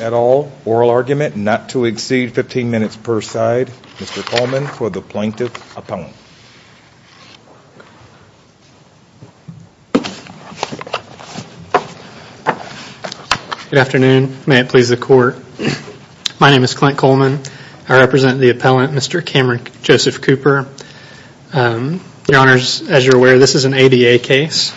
at all. Oral argument not to exceed 15 minutes per side. Mr. Coleman for the Plaintiff Appellant. Good afternoon. May it please the Court. My name is Clint Coleman. I represent the Appellant, Mr. Cameron Joseph Cooper. Your Honors, as you're aware, this is an ADA case.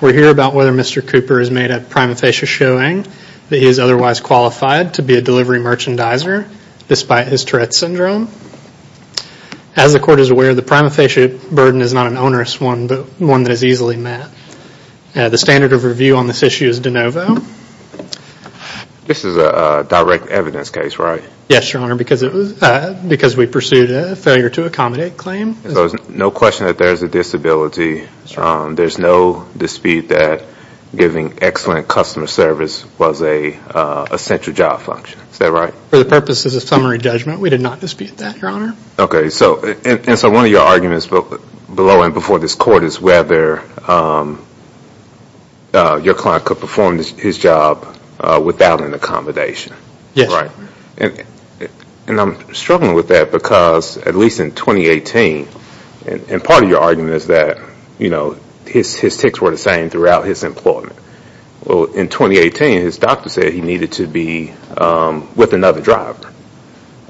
We're here about whether Mr. Cooper has made a prima facie showing that he is otherwise qualified to be a delivery merchandiser despite his Tourette's Syndrome. As the Court is aware, the prima facie burden is not an onerous one, but one that is easily met. The standard of review on this issue is de novo. This is a direct evidence case, right? Yes, Your Honor, because we pursued a failure to accommodate claim. So there's no question that there's a disability. There's no dispute that giving excellent customer service was an essential job function. Is that right? For the purposes of summary judgment, we did not dispute that, Your Honor. Okay, so one of your arguments below and before this Court is whether your client could perform his job without an accommodation. Yes. Right. And I'm struggling with that because at least in 2018, and part of your argument is that his tics were the same throughout his employment. Well, in 2018, his doctor said he needed to be with another driver.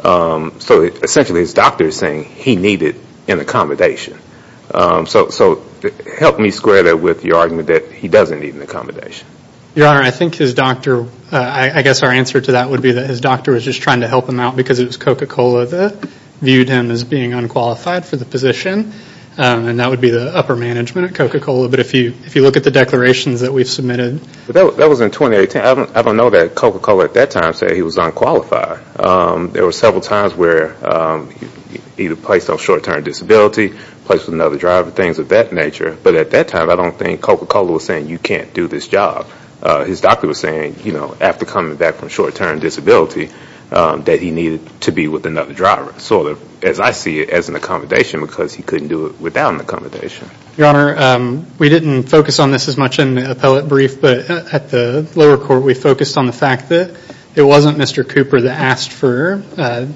So essentially his doctor is saying he needed an accommodation. So help me square that with your argument that he doesn't need an accommodation. Your Honor, I think his doctor, I guess our answer to that would be that his doctor was just trying to help him out because it was Coca-Cola that viewed him as being unqualified for the position. And that would be the upper management at Coca-Cola. But if you look at the declarations that we've submitted. That was in 2018. I don't know that Coca-Cola at that time said he was unqualified. There were several times where he was placed on short-term disability, placed with another driver, things of that nature. But at that time, I don't think Coca-Cola was saying you can't do this job. His doctor was saying, you know, after coming back from short-term disability, that he needed to be with another driver. As I see it, as an accommodation, because he couldn't do it without an accommodation. Your Honor, we didn't focus on this as much in the appellate brief. But at the lower court, we focused on the fact that it wasn't Mr. Cooper that asked for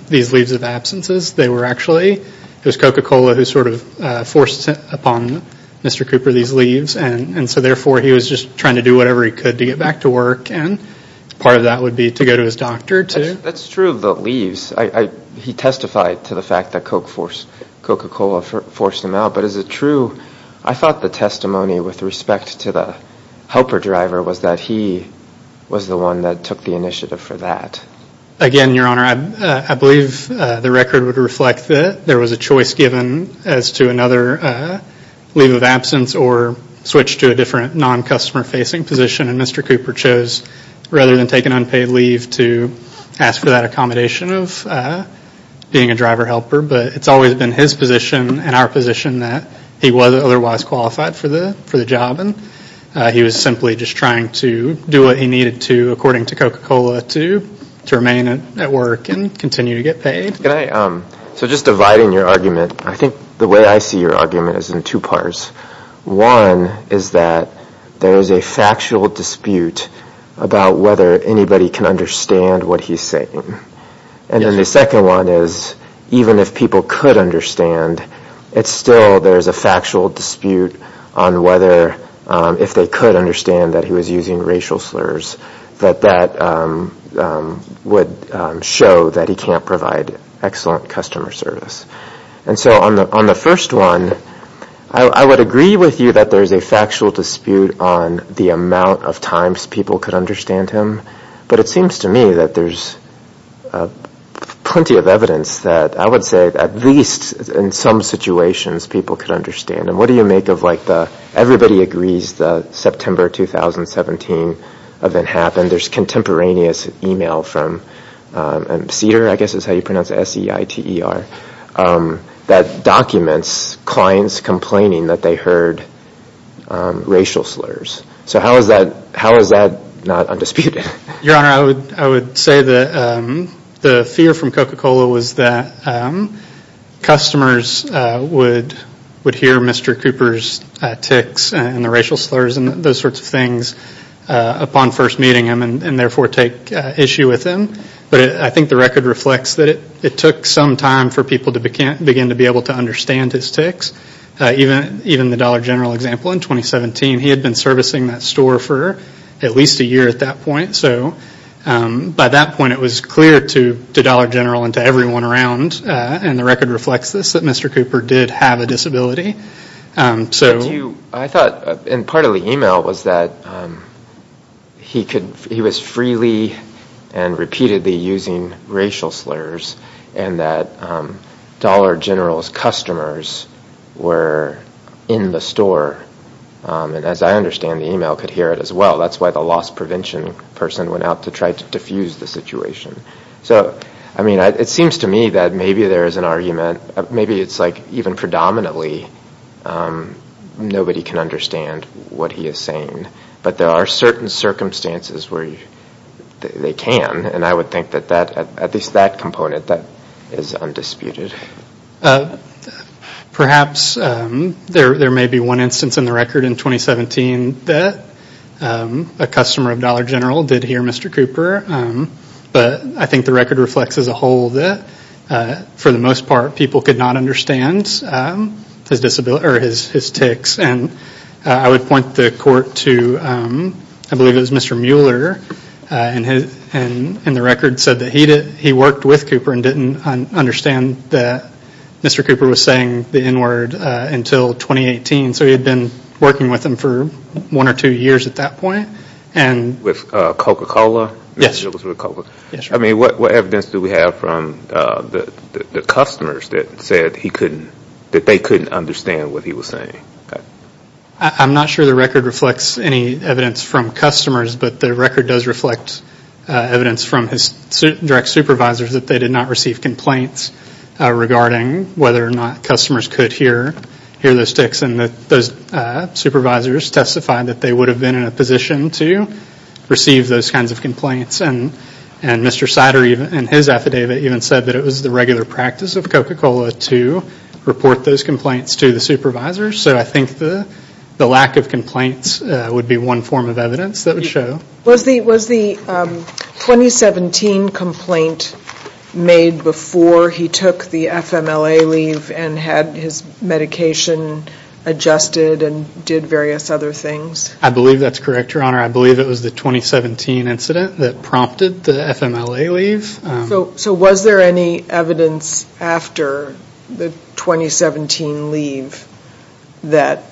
these leaves of absences. They were actually, it was Coca-Cola who sort of forced upon Mr. Cooper these leaves. And so therefore, he was just trying to do whatever he could to get back to work. And part of that would be to go to his doctor. That's true of the leaves. He testified to the fact that Coca-Cola forced him out. But is it true, I thought the testimony with respect to the helper driver was that he was the one that took the initiative for that. Again, Your Honor, I believe the record would reflect that there was a choice given as to another leave of absence or switch to a different non-customer facing position. And Mr. Cooper chose, rather than take an unpaid leave, to ask for that accommodation of being a driver helper. But it's always been his position and our position that he wasn't otherwise qualified for the job. And he was simply just trying to do what he needed to, according to Coca-Cola, to remain at work and continue to get paid. So just dividing your argument, I think the way I see your argument is in two parts. One is that there is a factual dispute about whether anybody can understand what he's saying. And then the second one is, even if people could understand, it's still there's a factual dispute on whether, if they could understand that he was using racial slurs, that that would show that he can't provide excellent customer service. And so on the first one, I would agree with you that there's a factual dispute on the amount of times people could understand him. But it seems to me that there's plenty of evidence that I would say at least in some situations people could understand him. What do you make of, like, the everybody agrees the September 2017 event happened. And there's contemporaneous email from SEITER, I guess is how you pronounce it, S-E-I-T-E-R, that documents clients complaining that they heard racial slurs. So how is that not undisputed? Your Honor, I would say that the fear from Coca-Cola was that customers would hear Mr. Cooper's tics and the racial slurs and those sorts of things upon first meeting him and therefore take issue with him. But I think the record reflects that it took some time for people to begin to be able to understand his tics. Even the Dollar General example in 2017, he had been servicing that store for at least a year at that point. So by that point it was clear to Dollar General and to everyone around, and the record reflects this, that Mr. Cooper did have a disability. I thought, and part of the email was that he was freely and repeatedly using racial slurs and that Dollar General's customers were in the store. And as I understand, the email could hear it as well. That's why the loss prevention person went out to try to diffuse the situation. It seems to me that maybe there is an argument. Maybe it's like even predominantly nobody can understand what he is saying. But there are certain circumstances where they can. And I would think that at least that component is undisputed. Perhaps there may be one instance in the record in 2017 that a customer of Dollar General did hear Mr. Cooper. But I think the record reflects as a whole that for the most part people could not understand his tics. And I would point the court to, I believe it was Mr. Mueller, and the record said that he worked with Cooper and didn't understand that Mr. Cooper was saying the N word until 2018. So he had been working with him for one or two years at that point. With Coca-Cola? Yes. I mean what evidence do we have from the customers that said that they couldn't understand what he was saying? I'm not sure the record reflects any evidence from customers, but the record does reflect evidence from his direct supervisors that they did not receive complaints regarding whether or not customers could hear those tics. And those supervisors testified that they would have been in a position to receive those kinds of complaints. And Mr. Sider in his affidavit even said that it was the regular practice of Coca-Cola to report those complaints to the supervisors. So I think the lack of complaints would be one form of evidence that would show. Was the 2017 complaint made before he took the FMLA leave and had his medication adjusted and did various other things? I believe that's correct, Your Honor. I believe it was the 2017 incident that prompted the FMLA leave. So was there any evidence after the 2017 leave that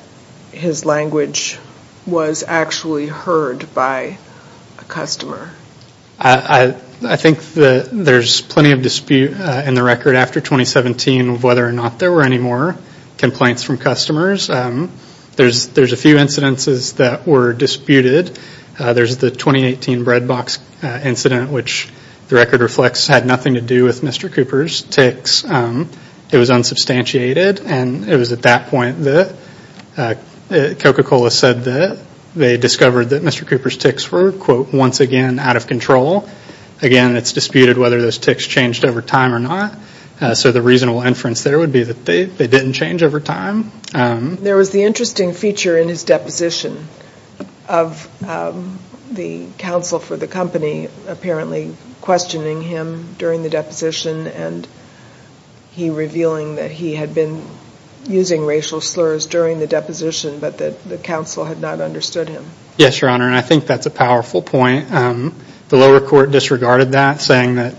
his language was actually heard by a customer? I think there's plenty of dispute in the record after 2017 of whether or not there were any more complaints from customers. There's a few incidences that were disputed. There's the 2018 bread box incident, which the record reflects had nothing to do with Mr. Cooper's tics. It was unsubstantiated and it was at that point that Coca-Cola said that they discovered that Mr. Cooper's tics were, quote, once again out of control. Again, it's disputed whether those tics changed over time or not. So the reasonable inference there would be that they didn't change over time. There was the interesting feature in his deposition of the counsel for the company apparently questioning him during the deposition and he revealing that he had been using racial slurs during the deposition but that the counsel had not understood him. Yes, Your Honor, and I think that's a powerful point. The lower court disregarded that, saying that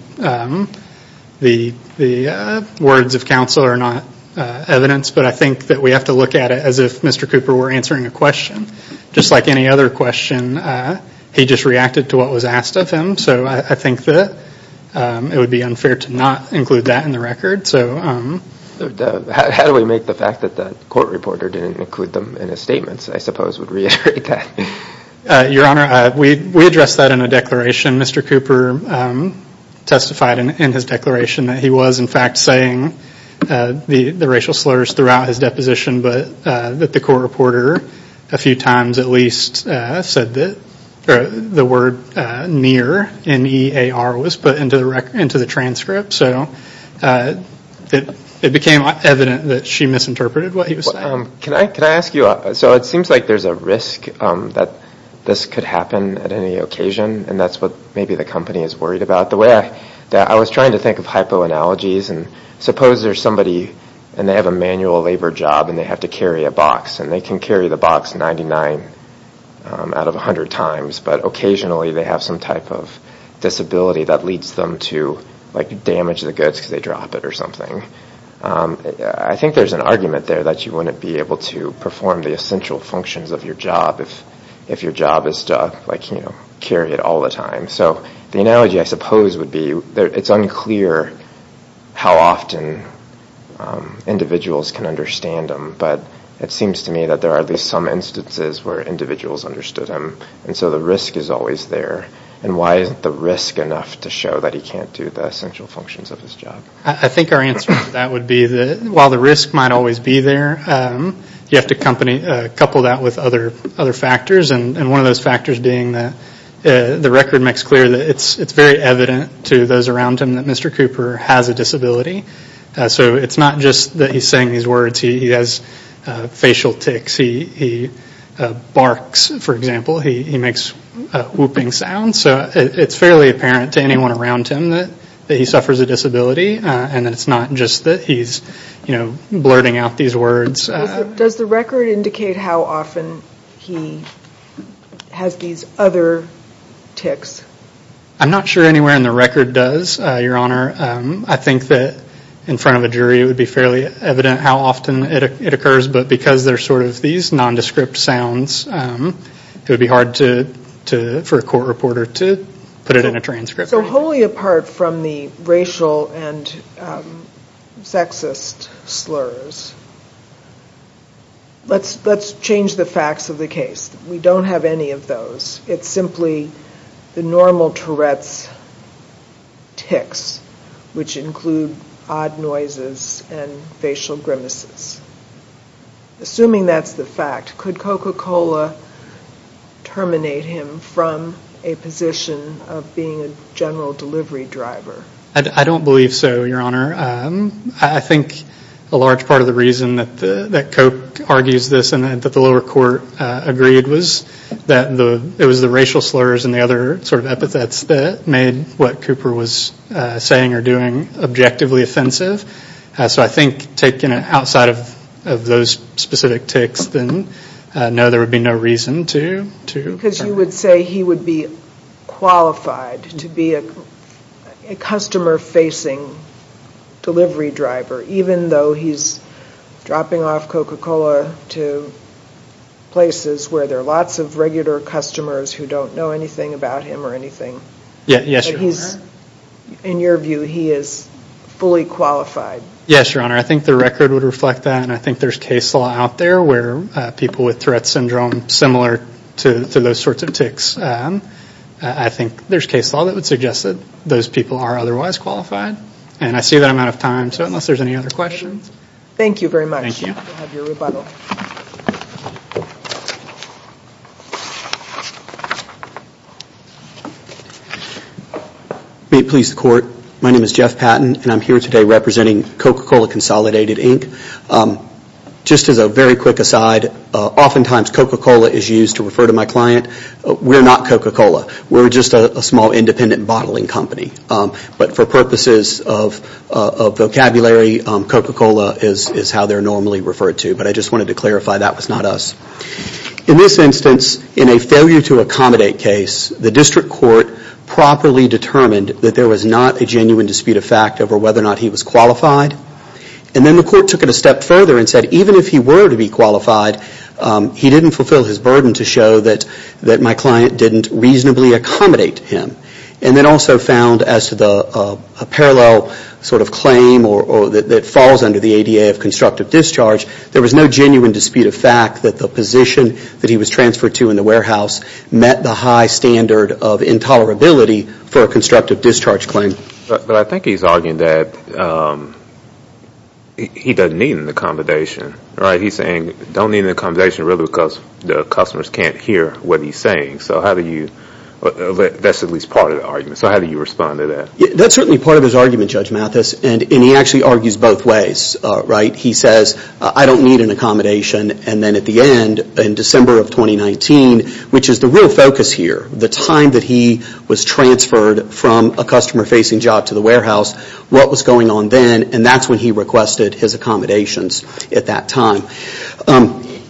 the words of counsel are not evidence, but I think that we have to look at it as if Mr. Cooper were answering a question. Just like any other question, he just reacted to what was asked of him. So I think that it would be unfair to not include that in the record. How do we make the fact that the court reporter didn't include them in his statements, I suppose, would reiterate that? Your Honor, we addressed that in a declaration. Mr. Cooper testified in his declaration that he was, in fact, saying the racial slurs throughout his deposition, but that the court reporter a few times at least said that the word near, N-E-A-R, was put into the transcript. So it became evident that she misinterpreted what he was saying. So it seems like there's a risk that this could happen at any occasion, and that's what maybe the company is worried about. I was trying to think of hypoanalogies, and suppose there's somebody, and they have a manual labor job and they have to carry a box, and they can carry the box 99 out of 100 times, but occasionally they have some type of disability that leads them to damage the goods because they drop it or something. I think there's an argument there that you wouldn't be able to perform the essential functions of your job if your job is to carry it all the time. So the analogy, I suppose, would be it's unclear how often individuals can understand him, but it seems to me that there are at least some instances where individuals understood him, and so the risk is always there. And why isn't the risk enough to show that he can't do the essential functions of his job? I think our answer to that would be that while the risk might always be there, you have to couple that with other factors, and one of those factors being that the record makes clear that it's very evident to those around him that Mr. Cooper has a disability. So it's not just that he's saying these words. He has facial tics. He barks, for example. He makes a whooping sound. So it's fairly apparent to anyone around him that he suffers a disability, and it's not just that he's blurting out these words. Does the record indicate how often he has these other tics? I'm not sure anywhere in the record does, Your Honor. I think that in front of a jury it would be fairly evident how often it occurs, but because they're sort of these nondescript sounds, it would be hard for a court reporter to put it in a transcript. So wholly apart from the racial and sexist slurs, let's change the facts of the case. We don't have any of those. It's simply the normal Tourette's tics, which include odd noises and facial grimaces. Assuming that's the fact, could Coca-Cola terminate him from a position of being a general delivery driver? I don't believe so, Your Honor. I think a large part of the reason that Coke argues this and that the lower court agreed was that it was the racial slurs and the other sort of epithets that made what Cooper was saying or doing objectively offensive. So I think taking it outside of those specific tics, then no, there would be no reason to. Because you would say he would be qualified to be a customer-facing delivery driver, even though he's dropping off Coca-Cola to places where there are lots of regular customers who don't know anything about him or anything. Yes, Your Honor. In your view, he is fully qualified. Yes, Your Honor. I think the record would reflect that, and I think there's case law out there where people with Tourette's syndrome, similar to those sorts of tics, I think there's case law that would suggest that those people are otherwise qualified. And I see that I'm out of time, so unless there's any other questions. Thank you very much. Thank you. May it please the Court. My name is Jeff Patton, and I'm here today representing Coca-Cola Consolidated, Inc. Just as a very quick aside, oftentimes Coca-Cola is used to refer to my client. We're not Coca-Cola. We're just a small independent bottling company. But for purposes of vocabulary, Coca-Cola is how they're normally referred to. But I just wanted to clarify that was not us. In this instance, in a failure to accommodate case, the district court properly determined that there was not a genuine dispute of fact over whether or not he was qualified. And then the court took it a step further and said even if he were to be qualified, he didn't fulfill his burden to show that my client didn't reasonably accommodate him. And then also found as to the parallel sort of claim that falls under the ADA of constructive discharge, there was no genuine dispute of fact that the position that he was transferred to in the warehouse met the high standard of intolerability for a constructive discharge claim. But I think he's arguing that he doesn't need an accommodation, right? He's saying don't need an accommodation really because the customers can't hear what he's saying. So that's at least part of the argument. So how do you respond to that? That's certainly part of his argument, Judge Mathis. And he actually argues both ways, right? He says I don't need an accommodation. And then at the end in December of 2019, which is the real focus here, the time that he was transferred from a customer-facing job to the warehouse, what was going on then, and that's when he requested his accommodations at that time.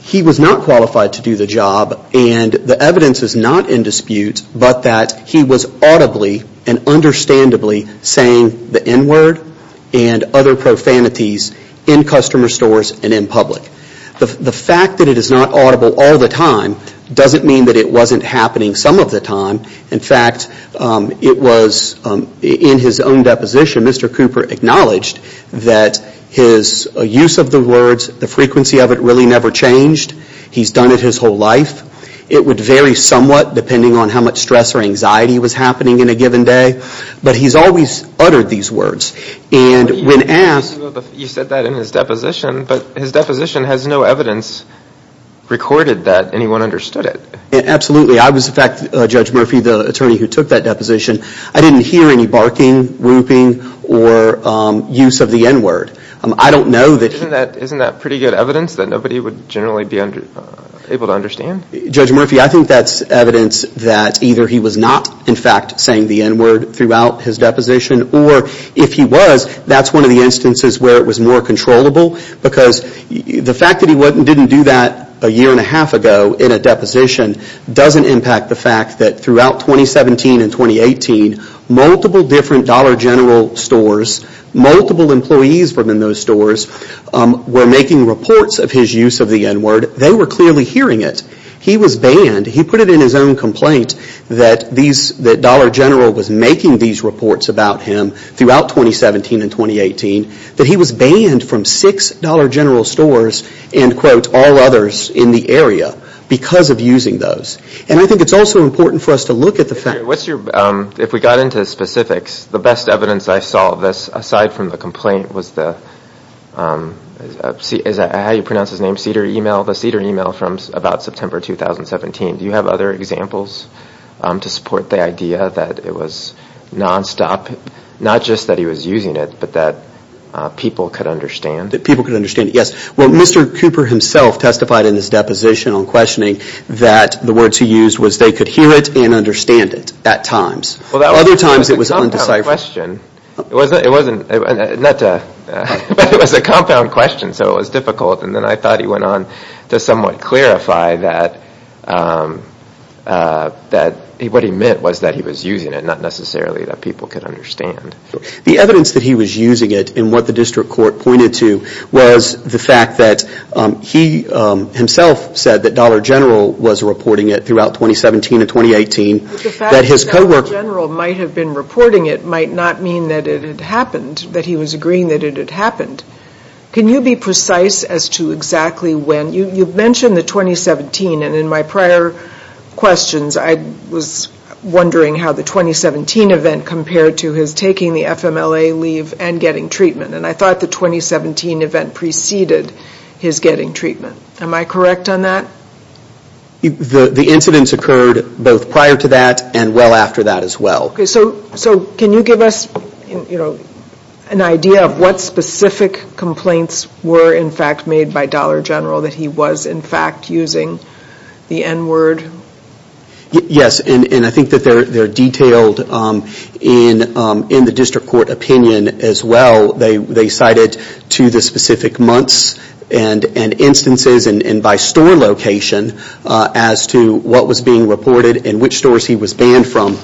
He was not qualified to do the job, and the evidence is not in dispute, but that he was audibly and understandably saying the N word and other profanities in customer stores and in public. The fact that it is not audible all the time doesn't mean that it wasn't happening some of the time. In fact, it was in his own deposition, Mr. Cooper acknowledged that his use of the words, the frequency of it really never changed. He's done it his whole life. It would vary somewhat depending on how much stress or anxiety was happening in a given day, but he's always uttered these words. You said that in his deposition, but his deposition has no evidence recorded that anyone understood it. Absolutely. I was, in fact, Judge Murphy, the attorney who took that deposition, I didn't hear any barking, whooping, or use of the N word. Isn't that pretty good evidence that nobody would generally be able to understand? Judge Murphy, I think that's evidence that either he was not, in fact, saying the N word throughout his deposition, or if he was, that's one of the instances where it was more controllable, because the fact that he didn't do that a year and a half ago in a deposition doesn't impact the fact that throughout 2017 and 2018, multiple different Dollar General stores, multiple employees from those stores, were making reports of his use of the N word. They were clearly hearing it. He was banned. He put it in his own complaint that Dollar General was making these reports about him throughout 2017 and 2018, that he was banned from six Dollar General stores and, quote, all others in the area because of using those. And I think it's also important for us to look at the fact that when we got into specifics, the best evidence I saw of this, aside from the complaint, was the Cedar email from about September 2017. Do you have other examples to support the idea that it was nonstop, not just that he was using it, but that people could understand? That people could understand it, yes. Well, Mr. Cooper himself testified in his deposition on questioning that the words he used was they could hear it and understand it at times. Well, that was a compound question. It was a compound question, so it was difficult. And then I thought he went on to somewhat clarify that what he meant was that he was using it, not necessarily that people could understand. The evidence that he was using it and what the district court pointed to was the fact that he himself said that Dollar General was reporting it throughout 2017 and 2018. But the fact that Dollar General might have been reporting it might not mean that it had happened, that he was agreeing that it had happened. Can you be precise as to exactly when? You mentioned the 2017, and in my prior questions, I was wondering how the 2017 event compared to his taking the FMLA leave and getting treatment. And I thought the 2017 event preceded his getting treatment. Am I correct on that? The incidents occurred both prior to that and well after that as well. So can you give us an idea of what specific complaints were in fact made by Dollar General that he was in fact using the N-word? Yes, and I think that they're detailed in the district court opinion as well. They cited to the specific months and instances and by store location as to what was being reported and which stores he was banned from.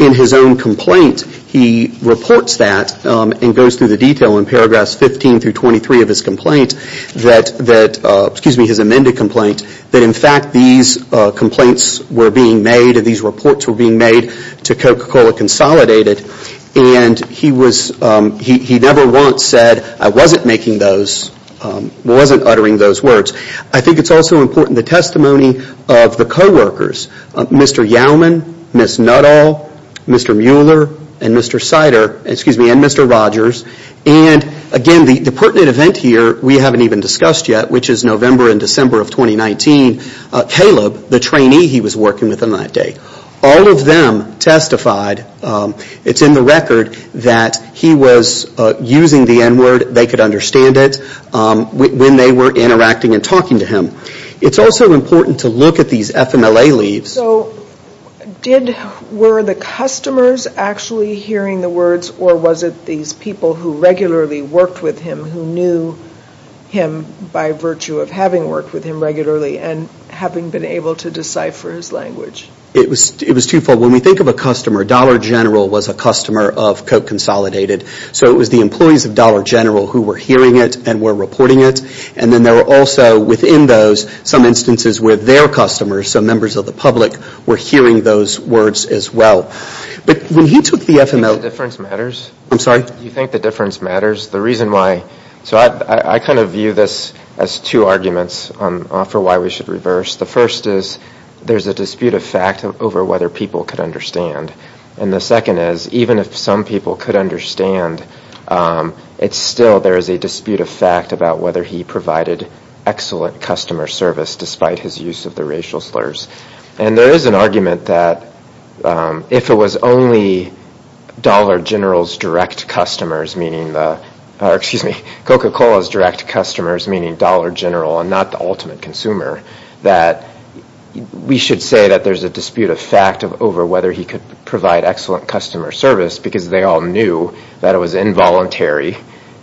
In his own complaint, he reports that and goes through the detail in paragraphs 15 through 23 of his complaint, his amended complaint, that in fact these complaints were being made and these reports were being made to Coca-Cola Consolidated. And he never once said, I wasn't making those, wasn't uttering those words. I think it's also important the testimony of the co-workers, Mr. Yauman, Ms. Nuttall, Mr. Mueller, and Mr. Rogers. And again, the pertinent event here, we haven't even discussed yet, which is November and December of 2019, Caleb, the trainee he was working with on that day, all of them testified that it's in the record that he was using the N-word. They could understand it when they were interacting and talking to him. It's also important to look at these FMLA leaves. So were the customers actually hearing the words or was it these people who regularly worked with him who knew him by virtue of having worked with him regularly and having been able to decipher his language? It was twofold. When we think of a customer, Dollar General was a customer of Coke Consolidated. So it was the employees of Dollar General who were hearing it and were reporting it. And then there were also within those some instances where their customers, some members of the public, were hearing those words as well. But when he took the FMLA... Do you think the difference matters? I'm sorry? Do you think the difference matters? The reason why, so I kind of view this as two arguments for why we should reverse. The first is there's a dispute of fact over whether people could understand. And the second is even if some people could understand, it's still there is a dispute of fact about whether he provided excellent customer service despite his use of the racial slurs. And there is an argument that if it was only Dollar General's direct customers, meaning the, excuse me, Coca-Cola's direct customers, meaning Dollar General and not the ultimate consumer, that we should say that there's a dispute of fact over whether he could provide excellent customer service because they all knew that it was involuntary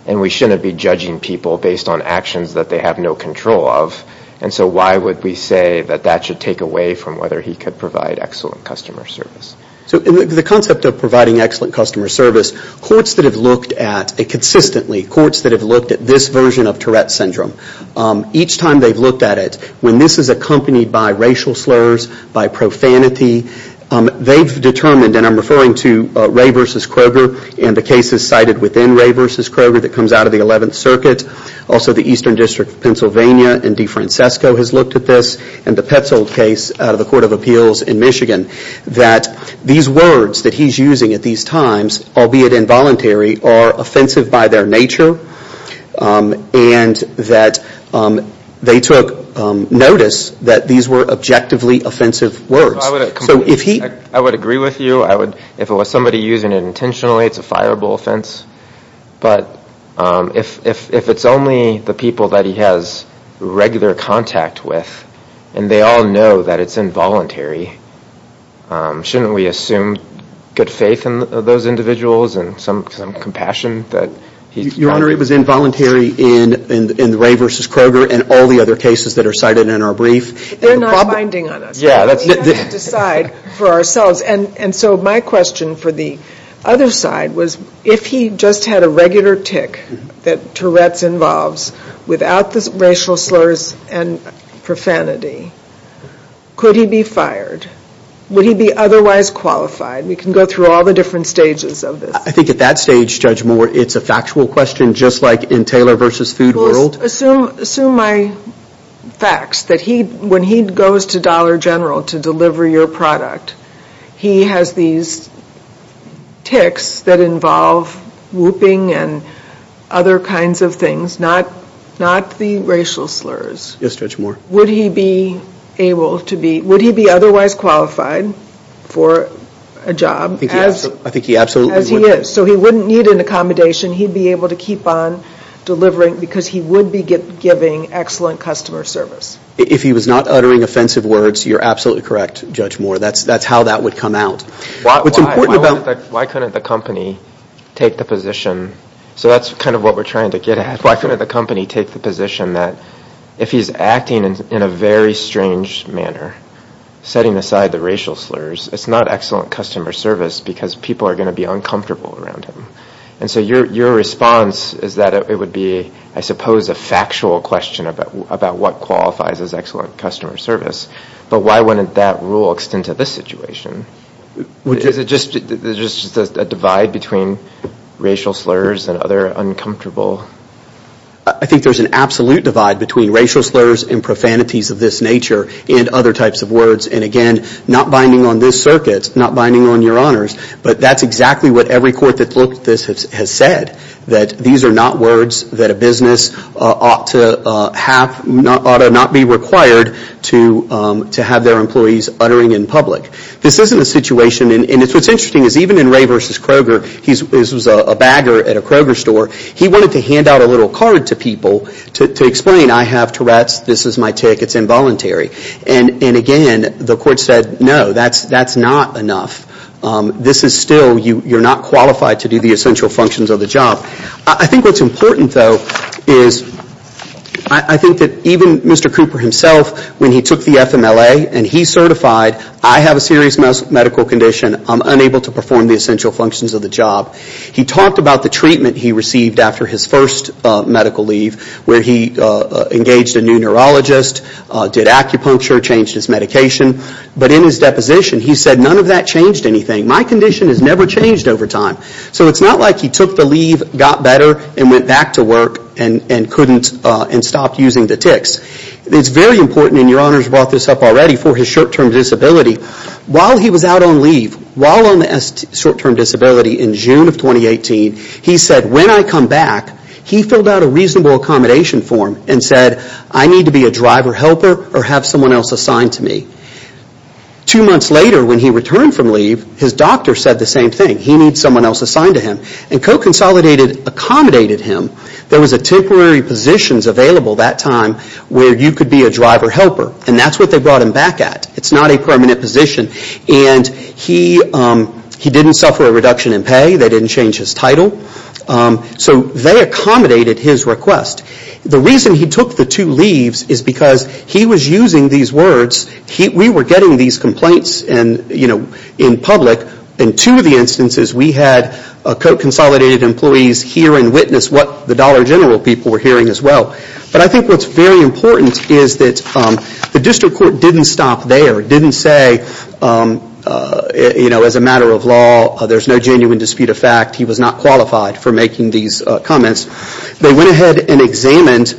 and we shouldn't be judging people based on actions that they have no control of. And so why would we say that that should take away from whether he could provide excellent customer service? So the concept of providing excellent customer service, courts that have looked at it consistently, courts that have looked at this version of Tourette's Syndrome, each time they've looked at it, when this is accompanied by racial slurs, by profanity, they've determined, and I'm referring to Ray v. Kroger and the cases cited within Ray v. Kroger that comes out of the 11th Circuit, also the Eastern District of Pennsylvania and DeFrancisco has looked at this, and the Petzold case out of the Court of Appeals in Michigan, that these words that he's using at these times, albeit involuntary, are offensive by their nature and that they took notice that these were objectively offensive words. So if he... I would agree with you. If it was somebody using it intentionally, it's a fireable offense. But if it's only the people that he has regular contact with and they all know that it's involuntary, shouldn't we assume good faith in those individuals and some compassion that he's got? Your Honor, it was involuntary in Ray v. Kroger and all the other cases that are cited in our brief. They're not binding on us. We have to decide for ourselves. And so my question for the other side was, if he just had a regular tick that Tourette's involves without the racial slurs and profanity, could he be fired? Would he be otherwise qualified? We can go through all the different stages of this. I think at that stage, Judge Moore, it's a factual question, just like in Taylor v. Food World. Well, assume my facts, that when he goes to Dollar General to deliver your product, he has these ticks that involve whooping and other kinds of things, not the racial slurs. Yes, Judge Moore. Would he be otherwise qualified for a job as he is? I think he absolutely would. So he wouldn't need an accommodation. He'd be able to keep on delivering because he would be giving excellent customer service. If he was not uttering offensive words, you're absolutely correct, Judge Moore. That's how that would come out. Why couldn't the company take the position? So that's kind of what we're trying to get at. Why couldn't the company take the position that if he's acting in a very strange manner, setting aside the racial slurs, it's not excellent customer service because people are going to be uncomfortable around him? And so your response is that it would be, I suppose, a factual question about what qualifies as excellent customer service, but why wouldn't that rule extend to this situation? Is it just a divide between racial slurs and other uncomfortable? I think there's an absolute divide between racial slurs and profanities of this nature and other types of words. And again, not binding on this circuit, not binding on your honors, but that's exactly what every court that looked at this has said, that these are not words that a business ought to have, ought to not be required to have their employees uttering in public. This isn't a situation, and what's interesting is even in Ray v. Kroger, this was a bagger at a Kroger store, he wanted to hand out a little card to people to explain, I have Tourette's, this is my tick, it's involuntary. And again, the court said, no, that's not enough. This is still, you're not qualified to do the essential functions of the job. I think what's important, though, is I think that even Mr. Cooper himself, when he took the FMLA and he certified, I have a serious medical condition, I'm unable to perform the essential functions of the job. He talked about the treatment he received after his first medical leave, where he engaged a new neurologist, did acupuncture, changed his medication. But in his deposition, he said, none of that changed anything. My condition has never changed over time. So it's not like he took the leave, got better, and went back to work and couldn't, and stopped using the ticks. It's very important, and your honors brought this up already, for his short-term disability. While he was out on leave, while on the short-term disability in June of 2018, he said, when I come back, he filled out a reasonable accommodation form and said, I need to be a driver helper or have someone else assigned to me. Two months later, when he returned from leave, his doctor said the same thing. He needs someone else assigned to him. And co-consolidated accommodated him. There was temporary positions available that time where you could be a driver helper. And that's what they brought him back at. It's not a permanent position. And he didn't suffer a reduction in pay. They didn't change his title. So they accommodated his request. The reason he took the two leaves is because he was using these words. We were getting these complaints in public. In two of the instances, we had co-consolidated employees hear and witness what the Dollar General people were hearing as well. But I think what's very important is that the district court didn't stop there. It didn't say, as a matter of law, there's no genuine dispute of fact. He was not qualified for making these comments. They went ahead and examined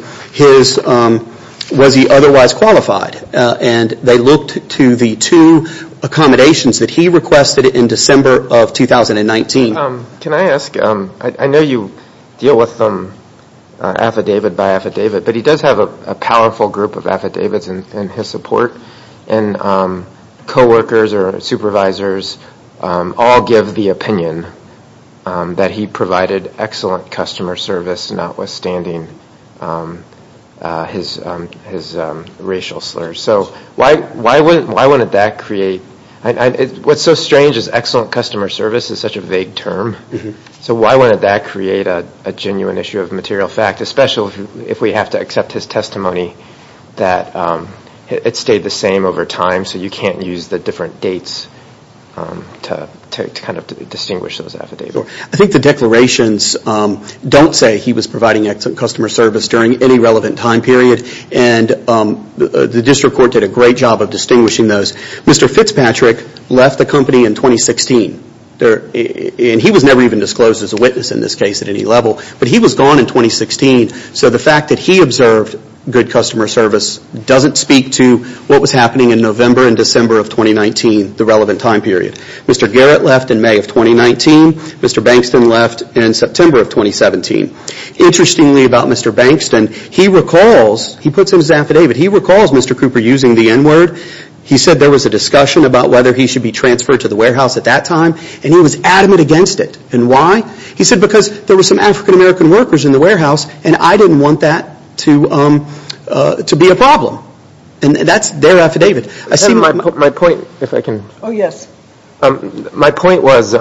was he otherwise qualified. And they looked to the two accommodations that he requested in December of 2019. Can I ask, I know you deal with affidavit by affidavit, but he does have a powerful group of affidavits in his support. And coworkers or supervisors all give the opinion that he provided excellent customer service, notwithstanding his racial slurs. So why wouldn't that create? What's so strange is excellent customer service is such a vague term. So why wouldn't that create a genuine issue of material fact, especially if we have to accept his testimony that it stayed the same over time. So you can't use the different dates to kind of distinguish those affidavits. I think the declarations don't say he was providing excellent customer service during any relevant time period. And the district court did a great job of distinguishing those. Mr. Fitzpatrick left the company in 2016. And he was never even disclosed as a witness in this case at any level. But he was gone in 2016. So the fact that he observed good customer service doesn't speak to what was happening in November and December of 2019, the relevant time period. Mr. Garrett left in May of 2019. Mr. Bankston left in September of 2017. Interestingly about Mr. Bankston, he recalls, he puts in his affidavit, he recalls Mr. Cooper using the N word. He said there was a discussion about whether he should be transferred to the warehouse at that time. And he was adamant against it. And why? He said because there were some African American workers in the warehouse. And I didn't want that to be a problem. And that's their affidavit. I see my point. If I can. My point was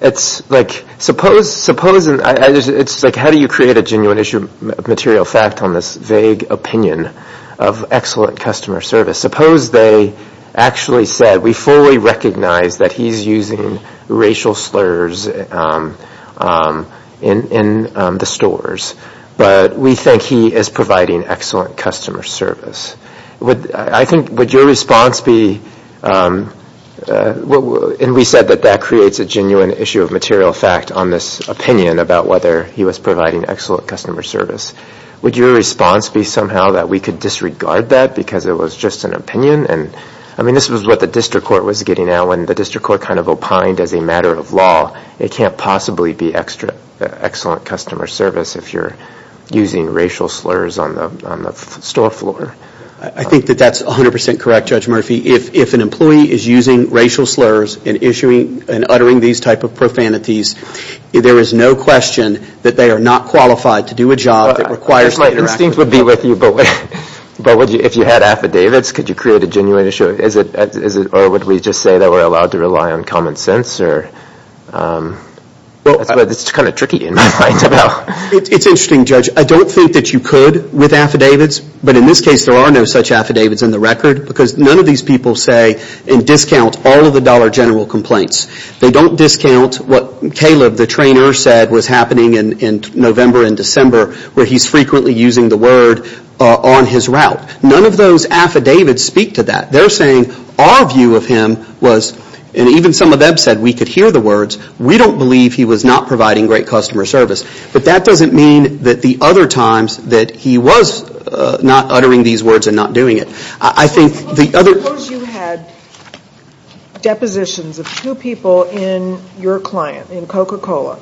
it's like suppose, suppose it's like how do you create a genuine issue of material fact on this vague opinion of excellent customer service? Suppose they actually said we fully recognize that he's using racial slurs in the stores. But we think he is providing excellent customer service. I think would your response be, and we said that that creates a genuine issue of material fact on this opinion about whether he was providing excellent customer service. Would your response be somehow that we could disregard that because it was just an opinion? I mean this was what the district court was getting at when the district court kind of opined as a matter of law. It can't possibly be excellent customer service if you're using racial slurs on the store floor. I think that that's 100% correct, Judge Murphy. If an employee is using racial slurs in issuing and uttering these type of profanities, there is no question that they are not qualified to do a job that requires that interaction. My instinct would be with you. But if you had affidavits, could you create a genuine issue? Or would we just say that we're allowed to rely on common sense? It's kind of tricky in my mind. It's interesting, Judge. I don't think that you could with affidavits. But in this case, there are no such affidavits in the record because none of these people say and discount all of the dollar general complaints. They don't discount what Caleb, the trainer, said was happening in November and December where he's frequently using the word on his route. None of those affidavits speak to that. They're saying our view of him was, and even some of them said we could hear the words, we don't believe he was not providing great customer service. But that doesn't mean that the other times that he was not uttering these words and not doing it. I think the other – Suppose you had depositions of two people in your client, in Coca-Cola,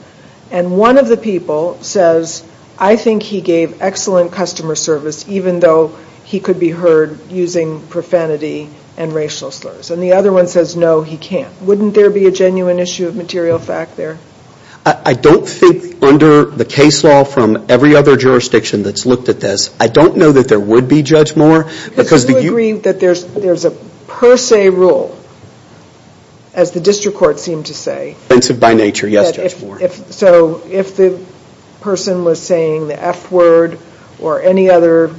and one of the people says, I think he gave excellent customer service, even though he could be heard using profanity and racial slurs. And the other one says, no, he can't. Wouldn't there be a genuine issue of material fact there? I don't think under the case law from every other jurisdiction that's looked at this, I don't know that there would be, Judge Moore, because – Do you agree that there's a per se rule, as the district court seemed to say – So if the person was saying the F word or any other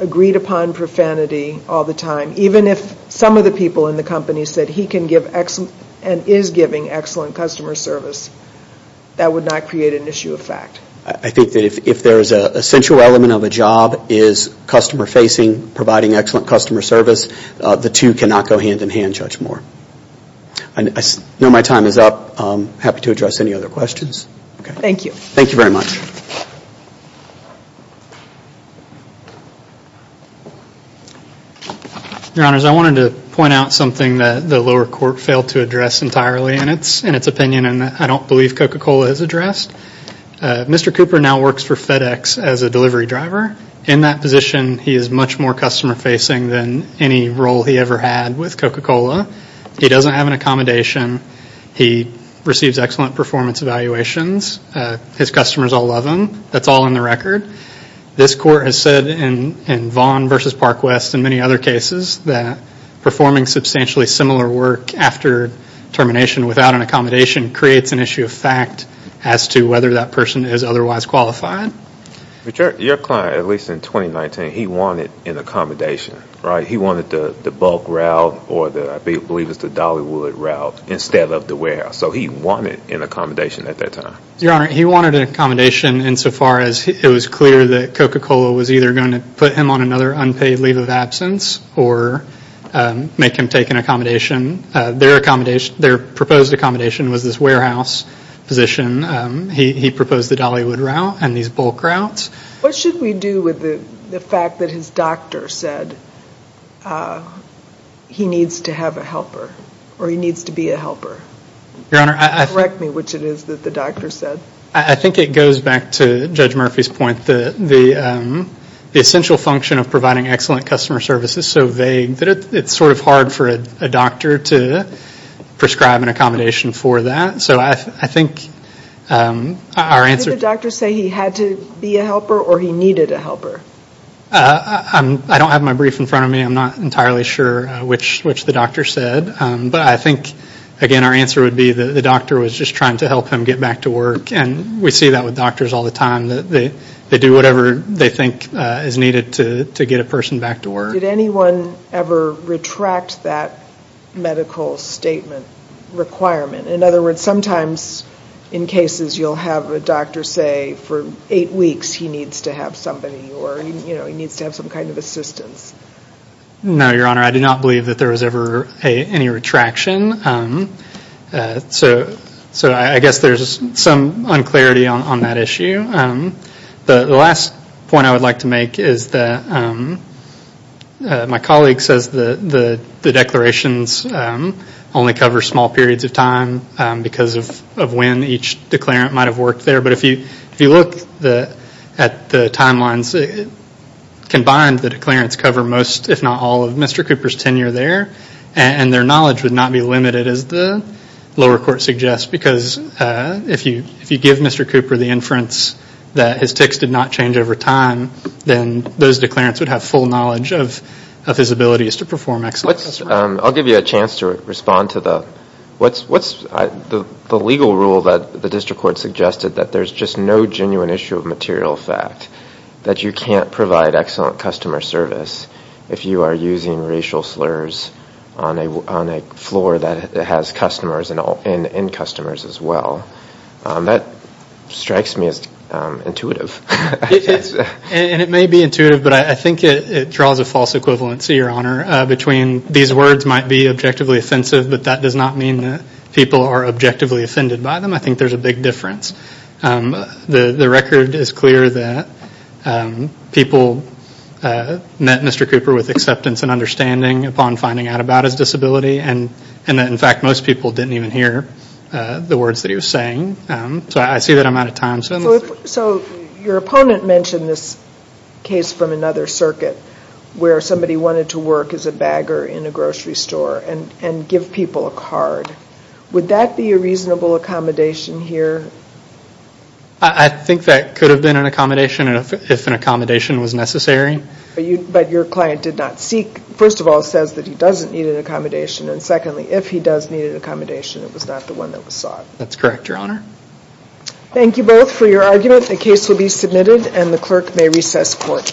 agreed upon profanity all the time, even if some of the people in the company said he can give excellent and is giving excellent customer service, that would not create an issue of fact. I think that if there is an essential element of a job is customer facing, providing excellent customer service, the two cannot go hand in hand, Judge Moore. I know my time is up. I'm happy to address any other questions. Thank you. Thank you very much. Your Honors, I wanted to point out something that the lower court failed to address entirely in its opinion and I don't believe Coca-Cola has addressed. Mr. Cooper now works for FedEx as a delivery driver. In that position, he is much more customer facing than any role he ever had with Coca-Cola. He doesn't have an accommodation. He receives excellent performance evaluations. His customers all love him. That's all in the record. This court has said in Vaughn v. Parkwest and many other cases that performing substantially similar work after termination without an accommodation creates an issue of fact as to whether that person is otherwise qualified. Your client, at least in 2019, he wanted an accommodation, right? He wanted the bulk route or I believe it was the Dollywood route instead of the warehouse. So he wanted an accommodation at that time. Your Honor, he wanted an accommodation insofar as it was clear that Coca-Cola was either going to put him on another unpaid leave of absence or make him take an accommodation. Their proposed accommodation was this warehouse position. He proposed the Dollywood route and these bulk routes. What should we do with the fact that his doctor said he needs to have a helper or he needs to be a helper? Correct me which it is that the doctor said. I think it goes back to Judge Murphy's point. The essential function of providing excellent customer service is so vague that it's sort of hard for a doctor to prescribe an accommodation for that. So I think our answer... Did the doctor say he had to be a helper or he needed a helper? I don't have my brief in front of me. I'm not entirely sure which the doctor said. But I think, again, our answer would be the doctor was just trying to help him get back to work. And we see that with doctors all the time. They do whatever they think is needed to get a person back to work. Did anyone ever retract that medical statement requirement? In other words, sometimes in cases you'll have a doctor say for eight weeks he needs to have somebody or he needs to have some kind of assistance. No, Your Honor. I do not believe that there was ever any retraction. So I guess there's some unclarity on that issue. The last point I would like to make is that my colleague says the declarations only cover small periods of time. Because of when each declarant might have worked there. But if you look at the timelines, combined, the declarants cover most, if not all, of Mr. Cooper's tenure there. And their knowledge would not be limited, as the lower court suggests, because if you give Mr. Cooper the inference that his tics did not change over time, then those declarants would have full knowledge of his abilities to perform excellence. I'll give you a chance to respond to the legal rule that the district court suggested, that there's just no genuine issue of material fact that you can't provide excellent customer service if you are using racial slurs on a floor that has customers and end customers as well. That strikes me as intuitive. And it may be intuitive, but I think it draws a false equivalency, Your Honor, between these words might be objectively offensive, but that does not mean that people are objectively offended by them. I think there's a big difference. The record is clear that people met Mr. Cooper with acceptance and understanding upon finding out about his disability. And in fact, most people didn't even hear the words that he was saying. So I see that I'm out of time. So your opponent mentioned this case from another circuit where somebody wanted to work as a bagger in a grocery store and give people a card. Would that be a reasonable accommodation here? I think that could have been an accommodation if an accommodation was necessary. But your client did not seek, first of all, says that he doesn't need an accommodation, and secondly, if he does need an accommodation, it was not the one that was sought. That's correct, Your Honor. Thank you both for your argument. The case will be submitted, and the clerk may recess court.